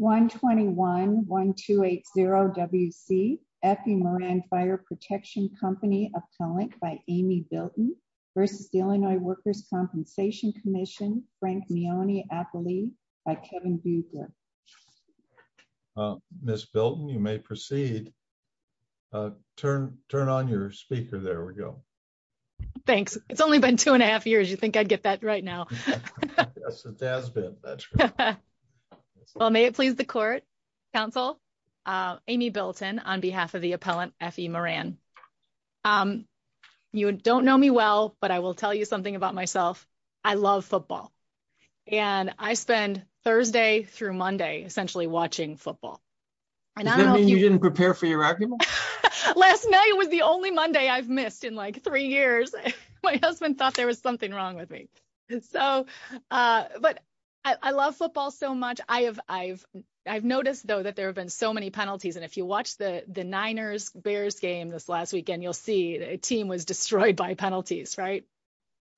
121-1280-WC F.E. Moran Fire Protection Co. appellant by Amy Bilton v. Illinois Workers' Compensation Comm'n Frank Meonee-Appley by Kevin Buebler. Ms. Bilton, you may proceed. Turn on your speaker. There we go. Thanks. It's only been two and a half years. You'd think I'd get that right now. Yes, it has been. Well, may it please the court, counsel, Amy Bilton on behalf of the appellant F.E. Moran. You don't know me well, but I will tell you something about myself. I love football, and I spend Thursday through Monday essentially watching football. Does that mean you didn't prepare for your argument? Last night was the only Monday I've missed in like three years. My husband thought there was wrong with me. But I love football so much. I've noticed, though, that there have been so many penalties. And if you watch the Niners-Bears game this last weekend, you'll see a team was destroyed by penalties, right?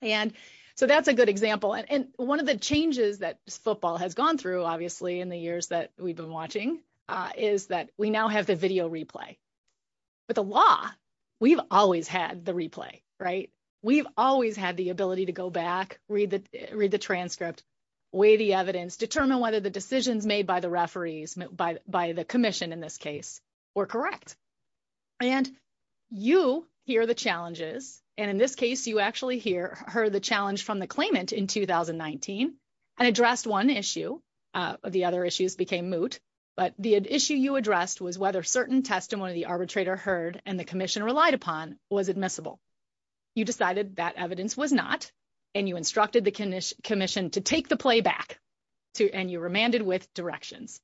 And so that's a good example. And one of the changes that football has gone through, obviously, in the years that we've been watching is that we now have the video replay. With the law, we've always had the replay, right? We've always had the ability to go back, read the transcript, weigh the evidence, determine whether the decisions made by the referees, by the commission in this case, were correct. And you hear the challenges. And in this case, you actually heard the challenge from the claimant in 2019 and addressed one issue. The other issues became moot. But the issue you addressed was whether certain testimony the arbitrator heard and the commission relied upon was admissible. You decided that evidence was not. And you instructed the commission to take the play back. And you remanded with directions.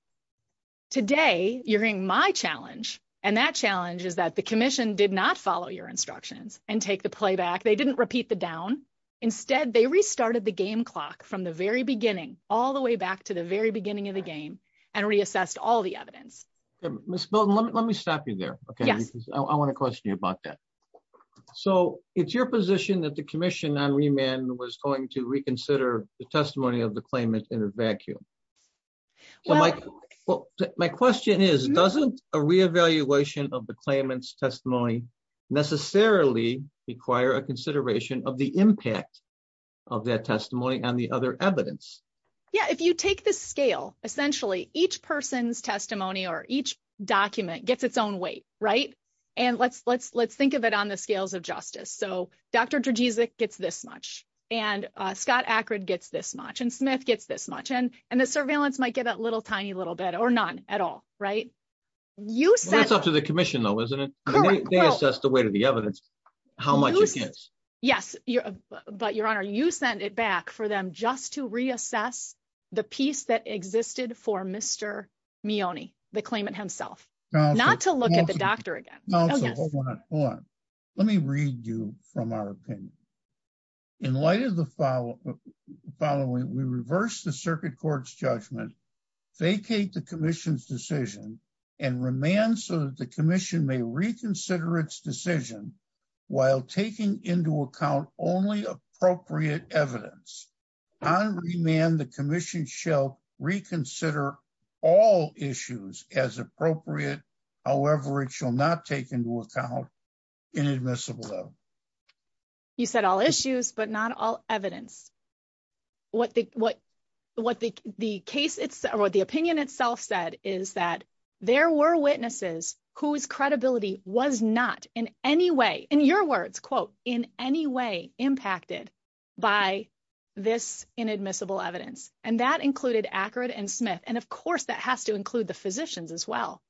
Today, you're hearing my challenge. And that challenge is that the commission did not follow your instructions and take the play back. They didn't repeat the down. Instead, they restarted the game clock from the very beginning, all the way back to the very beginning of the game, and reassessed all the evidence. Ms. Bilton, let me stop you there. Yes. I want to question you about that. So, it's your position that the commission on remand was going to reconsider the testimony of the claimant in a vacuum. My question is, doesn't a re-evaluation of the claimant's testimony necessarily require a on the other evidence? Yeah, if you take the scale, essentially, each person's testimony or each document gets its own weight, right? And let's think of it on the scales of justice. So, Dr. Drzezic gets this much. And Scott Akrud gets this much. And Smith gets this much. And the surveillance might get that little tiny little bit or none at all, right? That's up to the commission, though, isn't it? They assess the weight of the evidence, how much it gets. Yes. But, Your Honor, you send it back for them just to reassess the piece that existed for Mr. Mione, the claimant himself, not to look at the doctor again. Hold on. Let me read you from our opinion. In light of the following, we reverse the circuit court's judgment, vacate the commission's decision, and remand so that the commission may reconsider its decision while taking into account only appropriate evidence. On remand, the commission shall reconsider all issues as appropriate. However, it shall not take into account inadmissible. You said all issues, but not all evidence. What the what, what the case opinion itself said is that there were witnesses whose credibility was not in any way, in your words, quote, in any way impacted by this inadmissible evidence. And that included Akrud and Smith. And of course, that has to include the physicians as well.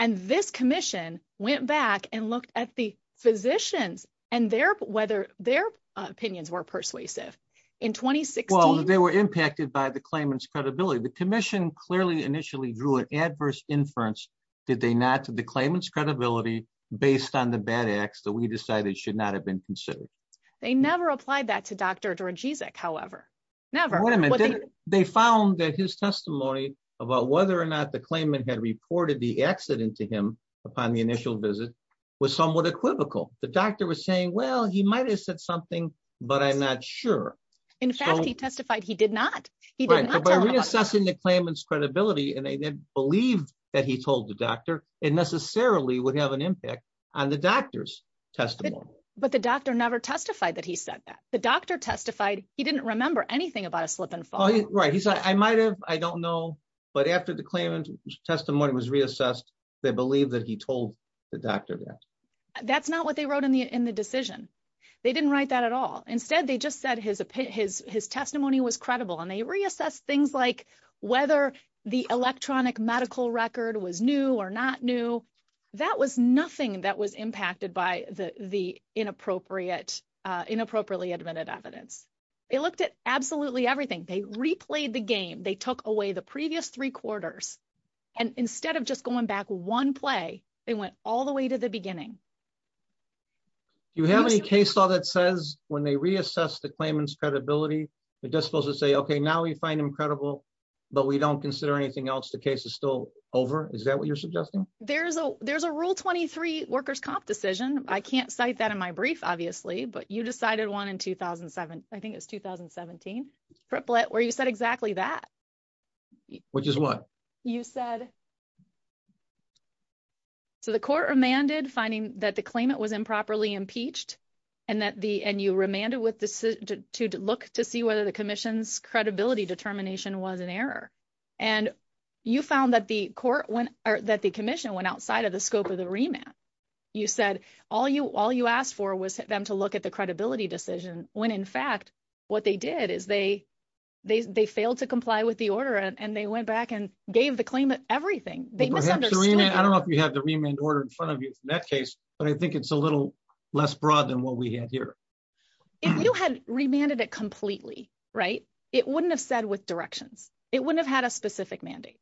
And this commission went back and looked at the physicians and their whether their opinions were persuasive. In 2016, they were impacted by the claimant's credibility. The commission clearly initially drew an adverse inference. Did they not to the claimant's credibility based on the bad acts that we decided should not have been considered? They never applied that to Dr. Drogizek, however, never. They found that his testimony about whether or not the claimant had reported the accident to him upon the initial visit was somewhat equivocal. The doctor was saying, well, he might have said something, but I'm not sure. In fact, he testified he did not. By reassessing the claimant's credibility, and they didn't believe that he told the doctor, it necessarily would have an impact on the doctor's testimony. But the doctor never testified that he said that. The doctor testified he didn't remember anything about a slip and fall. Right. He said, I might have, I don't know. But after the claimant's testimony was reassessed, they believe that he told the doctor that. That's not what they wrote in the decision. They didn't write that at all. Instead, they just said his testimony was credible, and they reassessed things like whether the electronic medical record was new or not new. That was nothing that was impacted by the inappropriately admitted evidence. They looked at absolutely everything. They replayed the game. They took away the previous three quarters. And instead of just going back one play, they went all the way to the beginning. Do you have any case law that says when they reassess the claimant's credibility, they're just supposed to say, okay, now we find him credible, but we don't consider anything else. The case is still over. Is that what you're suggesting? There's a, there's a rule 23 workers' comp decision. I can't cite that in my brief, obviously, but you decided one in 2007. I think it was 2017, where you said exactly that. Which is what? You said, so the court remanded finding that the claimant was improperly impeached, and you remanded to look to see whether the commission's credibility determination was an error. And you found that the commission went outside of the scope of the remand. You said all you asked for was them to look at the credibility decision, when in fact, what they did is they, they failed to comply with the order, and they went back and gave the claimant everything. I don't know if you have the remand order in front of you in that case, but I think it's a little less broad than what we have here. If you had remanded it completely, right, it wouldn't have said with directions, it wouldn't have had a specific mandate.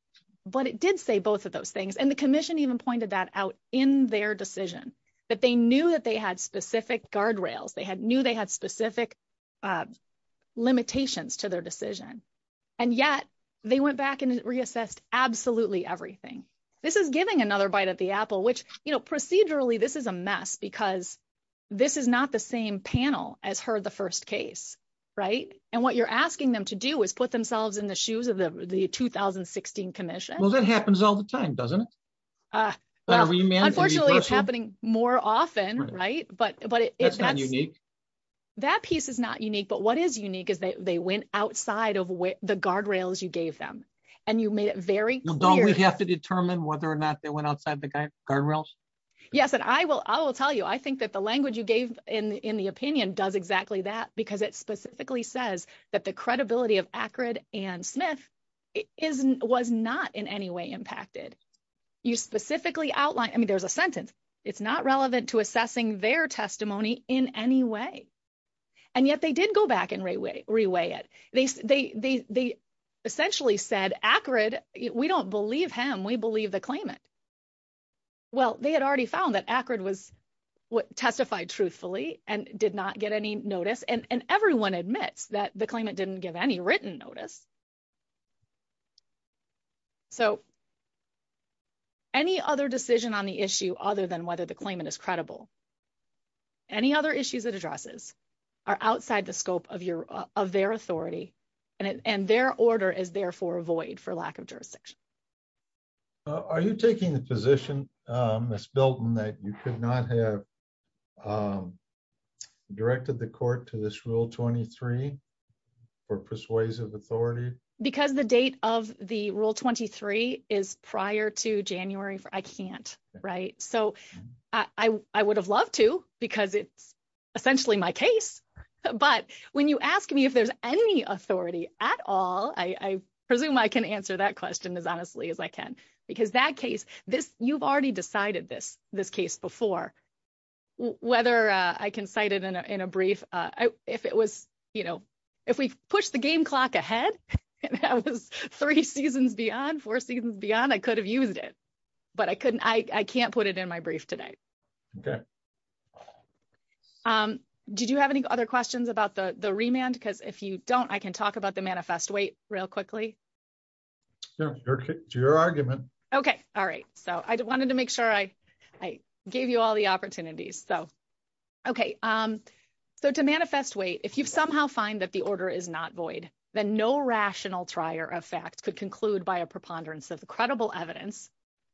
But it did say both of those things. And the commission even pointed that out in their decision, that they knew that they had specific guardrails, they had knew they had specific limitations to their decision. And yet, they went back and reassessed absolutely everything. This is giving another bite at the apple, which, you know, procedurally, this is a mess, because this is not the same panel as heard the first case, right? And what you're asking them to do is put themselves in the shoes of the 2016 commission. Well, that happens all the time, doesn't it? Unfortunately, it's happening more often, right? But but it's not unique. That piece is not unique. But what is unique is that they went outside of where the guardrails you gave them. And you made it very clear, you have to determine whether or not they went outside the guardrails. Yes. And I will I will tell you, I think that the language you gave in the opinion does exactly that, because it specifically says that the credibility of Akron and Smith is was not in any way impacted. You specifically outlined I mean, there's a sentence, it's not relevant to assessing their testimony in any way. And yet they did go back and reweigh it. They essentially said Akron, we don't believe him, we believe the claimant. Well, they had already found that Akron was what testified truthfully and did not get any notice. And everyone admits that the claimant didn't give any written notice. So any other decision on the issue other than whether the claimant is credible, any other issues that addresses are outside the scope of your of their authority, and their order is therefore void for lack of jurisdiction. Are you taking the position, Miss Belton that you could not have directed the court to this rule 23, or persuasive authority, because the date of the rule 23 is prior to January for I can't write so I would have loved to because it's essentially my case. But when you ask me if there's any authority at all, I presume I can answer that question as honestly as I can. Because that case, this you've already decided this, this case before, whether I can cite it in a brief, if it was, you know, if we push the game clock ahead, that was three seasons beyond four seasons beyond, I could have used it. But I couldn't I can't put it in my brief today. Okay. Did you have any other questions about the the remand? Because if you don't, I can talk about the manifest weight real quickly. No, your argument. Okay. All right. So I wanted to make sure I, I gave you all the opportunities. So, okay. So to manifest weight, if you've somehow find that the order is not void, then no rational trier of fact could conclude by a preponderance of the credible evidence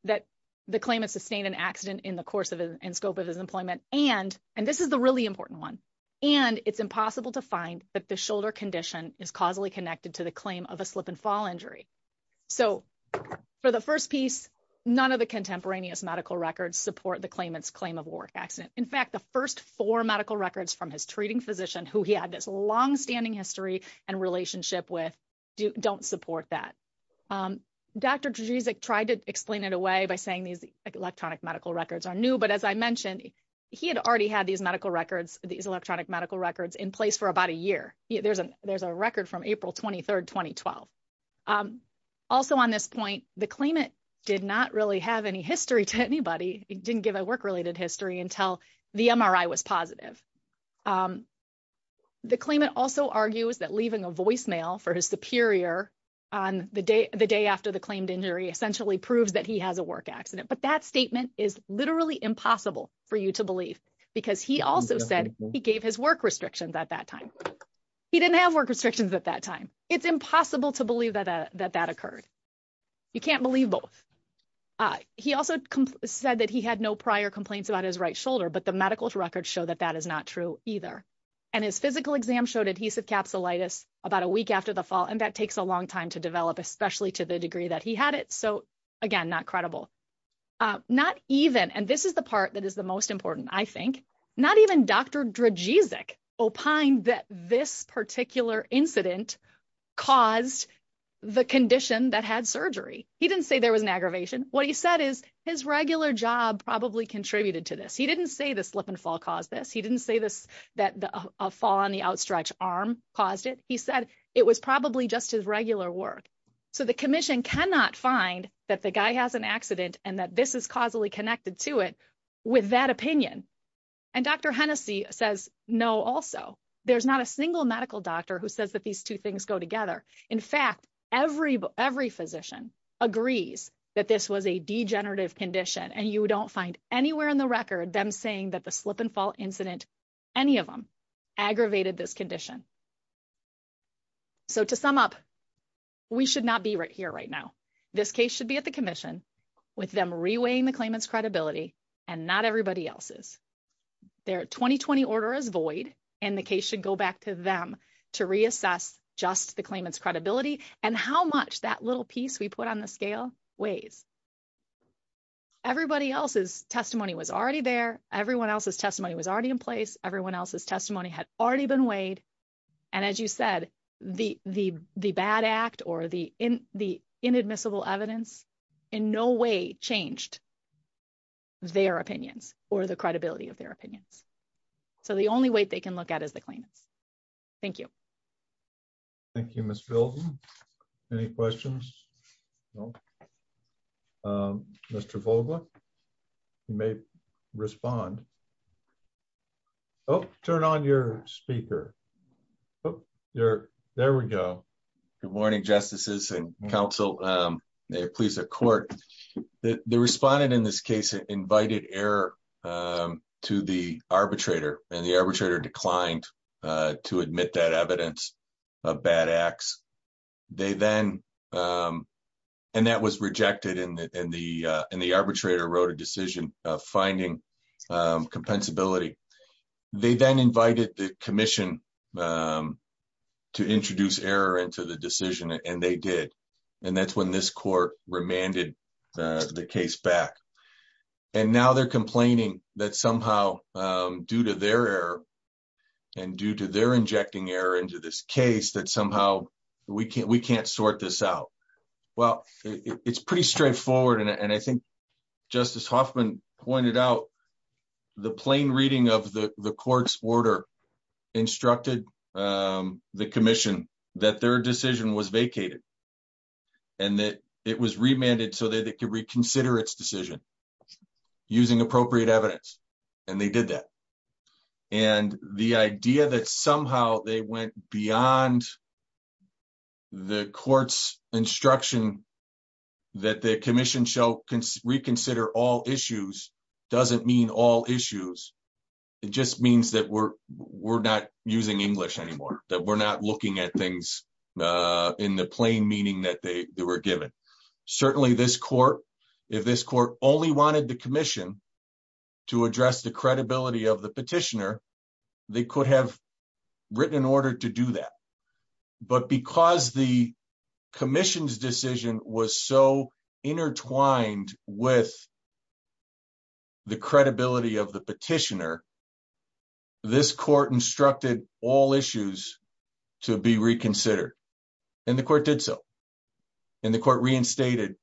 that the claim is sustained an accident in the course of in scope of his employment. And, and this is the really important one. And it's impossible to find that the shoulder condition is causally connected to the claim of a slip and fall injury. So, for the first piece, none of the contemporaneous medical records support the claimants claim of work accident. In fact, the first four medical records from his treating physician, who he had this longstanding history and relationship with, don't support that. Dr. Drzyzik tried to explain it away by saying these electronic medical records are new. But as I mentioned, he had already had these medical records in place for about a year. There's a, there's a record from April 23rd, 2012. Also on this point, the claimant did not really have any history to anybody. It didn't give a work-related history until the MRI was positive. The claimant also argues that leaving a voicemail for his superior on the day, the day after the claimed injury essentially proves that he has a work accident. But that statement is literally impossible for you to believe because he also said he gave his work restrictions at that time. He didn't have work restrictions at that time. It's impossible to believe that that occurred. You can't believe both. He also said that he had no prior complaints about his right shoulder, but the medical records show that that is not true either. And his physical exam showed adhesive capsulitis about a week after the fall. And that takes a long time to develop, especially to the part that is the most important, I think. Not even Dr. Drajic opined that this particular incident caused the condition that had surgery. He didn't say there was an aggravation. What he said is his regular job probably contributed to this. He didn't say the slip and fall caused this. He didn't say this, that the fall on the outstretch arm caused it. He said it was probably just his regular work. So the commission cannot find that the guy has an accident and that this is causally connected to it with that opinion. And Dr. Hennessy says no also. There's not a single medical doctor who says that these two things go together. In fact, every physician agrees that this was a degenerative condition and you don't find anywhere in the record them saying that the slip and fall incident, any of them, aggravated this condition. So to sum up, we should not be right here right now. This case should be at the commission with them reweighing the claimant's credibility and not everybody else's. Their 2020 order is void and the case should go back to them to reassess just the claimant's credibility and how much that little piece we put on the scale weighs. Everybody else's testimony was already there. Everyone else's testimony was already in place. Everyone else's testimony had already been weighed. And as you said, the bad act or the inadmissible evidence in no way changed their opinions or the credibility of their opinions. So the only weight they can look at is the claimants. Thank you. Thank you, Ms. Bilton. Any questions? No. Mr. Vogler, you may respond. Oh, turn on your speaker. Oh, there we go. Good morning, justices and counsel. May it please the court. The respondent in this case invited error to the arbitrator and the arbitrator declined to admit that evidence of bad acts. That was rejected and the arbitrator wrote a decision of finding compensability. They then invited the commission to introduce error into the decision and they did. And that's when this court remanded the case back. And now they're complaining that somehow due to their error and due to their injecting error into this case that somehow we can't sort this out. Well, it's pretty straightforward. And I think Justice Hoffman pointed out the plain reading of the court's order instructed the commission that their decision was vacated and that it was remanded so that they could reconsider its decision using appropriate evidence. And they did that. And the idea that somehow they went beyond the court's instruction that the commission shall reconsider all issues doesn't mean all issues. It just means that we're not using English anymore, that we're not looking at things in the plain meaning that they were given. Certainly this court, if this court only wanted the commission to address the credibility of the petitioner, they could have written an order to do that. But because the commission's decision was so intertwined with the credibility of the petitioner, this court instructed all issues to be reconsidered. And the court did so. And the court reinstated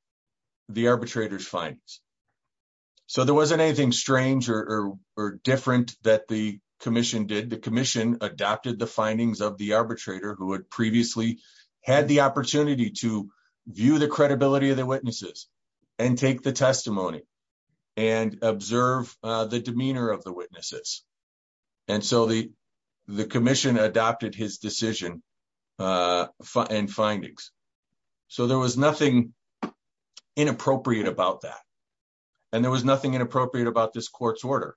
the arbitrator's findings. So there wasn't anything strange or different that the commission did. The commission adopted the findings of the arbitrator who had previously had the opportunity to view the credibility of their witnesses and take the testimony and observe the demeanor of the witnesses. And so the commission adopted his decision and findings. So there was nothing inappropriate about that. And there was nothing inappropriate about this court's order.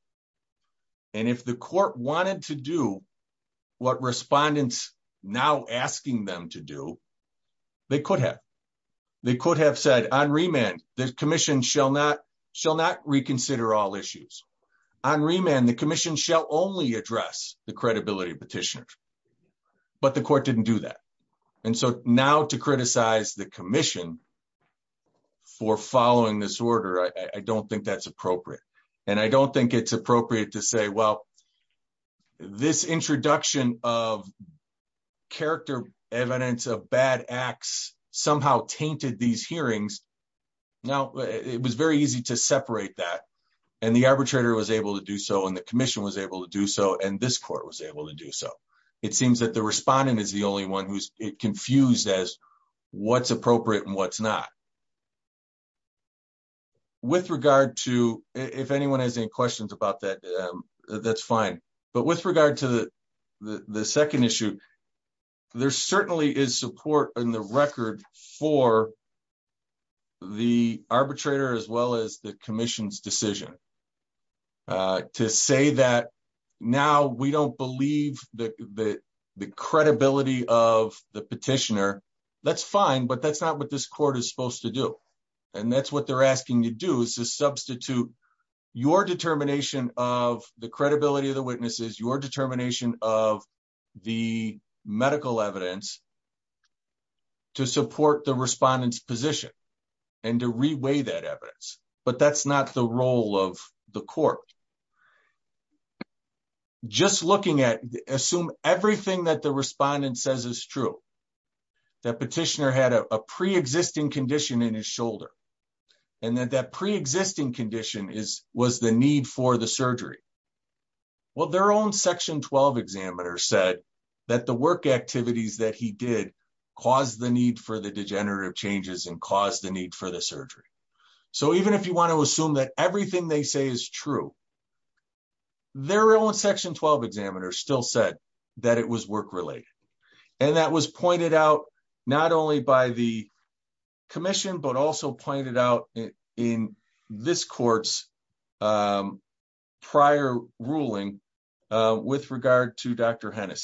And if the court wanted to do what respondents now asking them to do, they could have. They could have said on remand, the commission shall not reconsider all issues. On remand, the commission shall only address the credibility of petitioners. But the court didn't do that. And so now to criticize the order, I don't think that's appropriate. And I don't think it's appropriate to say, well, this introduction of character evidence of bad acts somehow tainted these hearings. Now, it was very easy to separate that. And the arbitrator was able to do so. And the commission was able to do so. And this court was able to do so. It seems that the respondent is the only one it confused as what's appropriate and what's not. With regard to, if anyone has any questions about that, that's fine. But with regard to the second issue, there certainly is support in the record for the arbitrator, as well as the commission's decision to say that now we don't believe the credibility of the petitioner. That's fine. But that's not what this court is supposed to do. And that's what they're asking to do is to substitute your determination of the credibility of the witnesses, your determination of the medical evidence to support the respondent's position and to reweigh that evidence. But that's not the role of the court. Just looking at, assume everything that the respondent says is true, that petitioner had a pre-existing condition in his shoulder, and that that pre-existing condition was the need for the surgery. Well, their own section 12 examiner said that the work activities that he did caused the need for the degenerative changes and caused the surgery. So even if you want to assume that everything they say is true, their own section 12 examiner still said that it was work-related. And that was pointed out not only by the commission, but also pointed out in this court's prior ruling with regard to Dr. If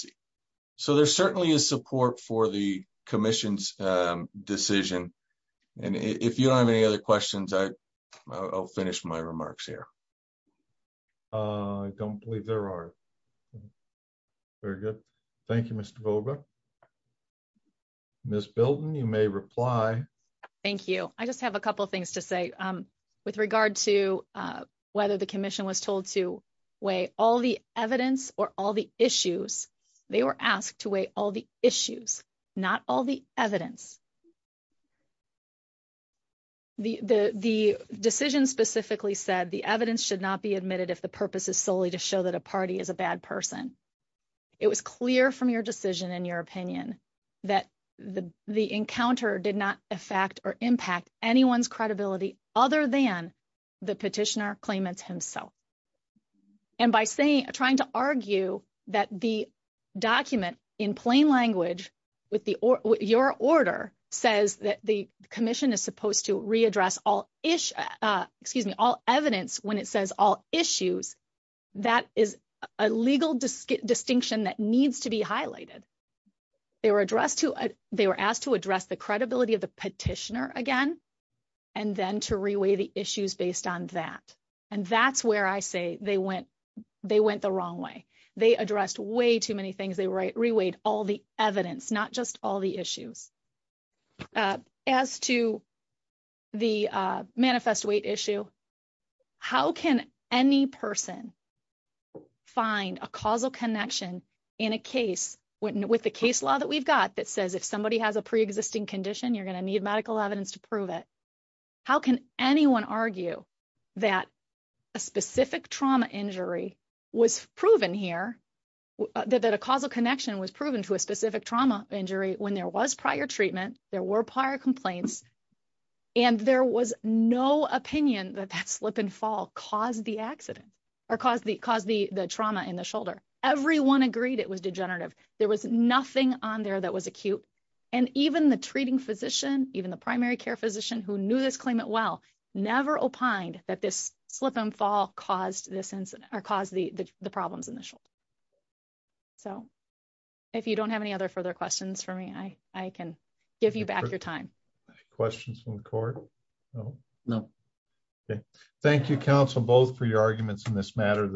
you don't have any other questions, I'll finish my remarks here. I don't believe there are. Very good. Thank you, Mr. Goldberg. Ms. Bilton, you may reply. Thank you. I just have a couple of things to say with regard to whether the commission was told to weigh all the evidence or all the issues. They were asked to weigh all the issues, not all the evidence. The decision specifically said the evidence should not be admitted if the purpose is solely to show that a party is a bad person. It was clear from your decision and your opinion that the encounter did not affect or impact anyone's credibility other than the petitioner claimants himself. And by trying to argue that the document in plain language with your order says that the commission is supposed to readdress all evidence when it says all issues, that is a legal distinction that needs to be highlighted. They were asked to address the credibility of the petitioner again, and then to reweigh the issues based on that. And that's where I say they went the wrong way. They addressed way too many things. They reweighed all evidence, not just all the issues. As to the manifest weight issue, how can any person find a causal connection in a case with the case law that we've got that says if somebody has a preexisting condition, you're going to need medical evidence to prove it. How can anyone argue that a specific trauma injury was proven here, that a causal connection was proven to a specific trauma injury when there was prior treatment, there were prior complaints, and there was no opinion that that slip and fall caused the trauma in the shoulder. Everyone agreed it was degenerative. There was nothing on there that was acute. And even the treating physician, even the primary care physician who knew this claimant well, never opined that this slip and fall caused the problems in the shoulder. So, if you don't have any other further questions for me, I can give you back your time. Questions from the court? No. Thank you, counsel, both for your arguments in this matter.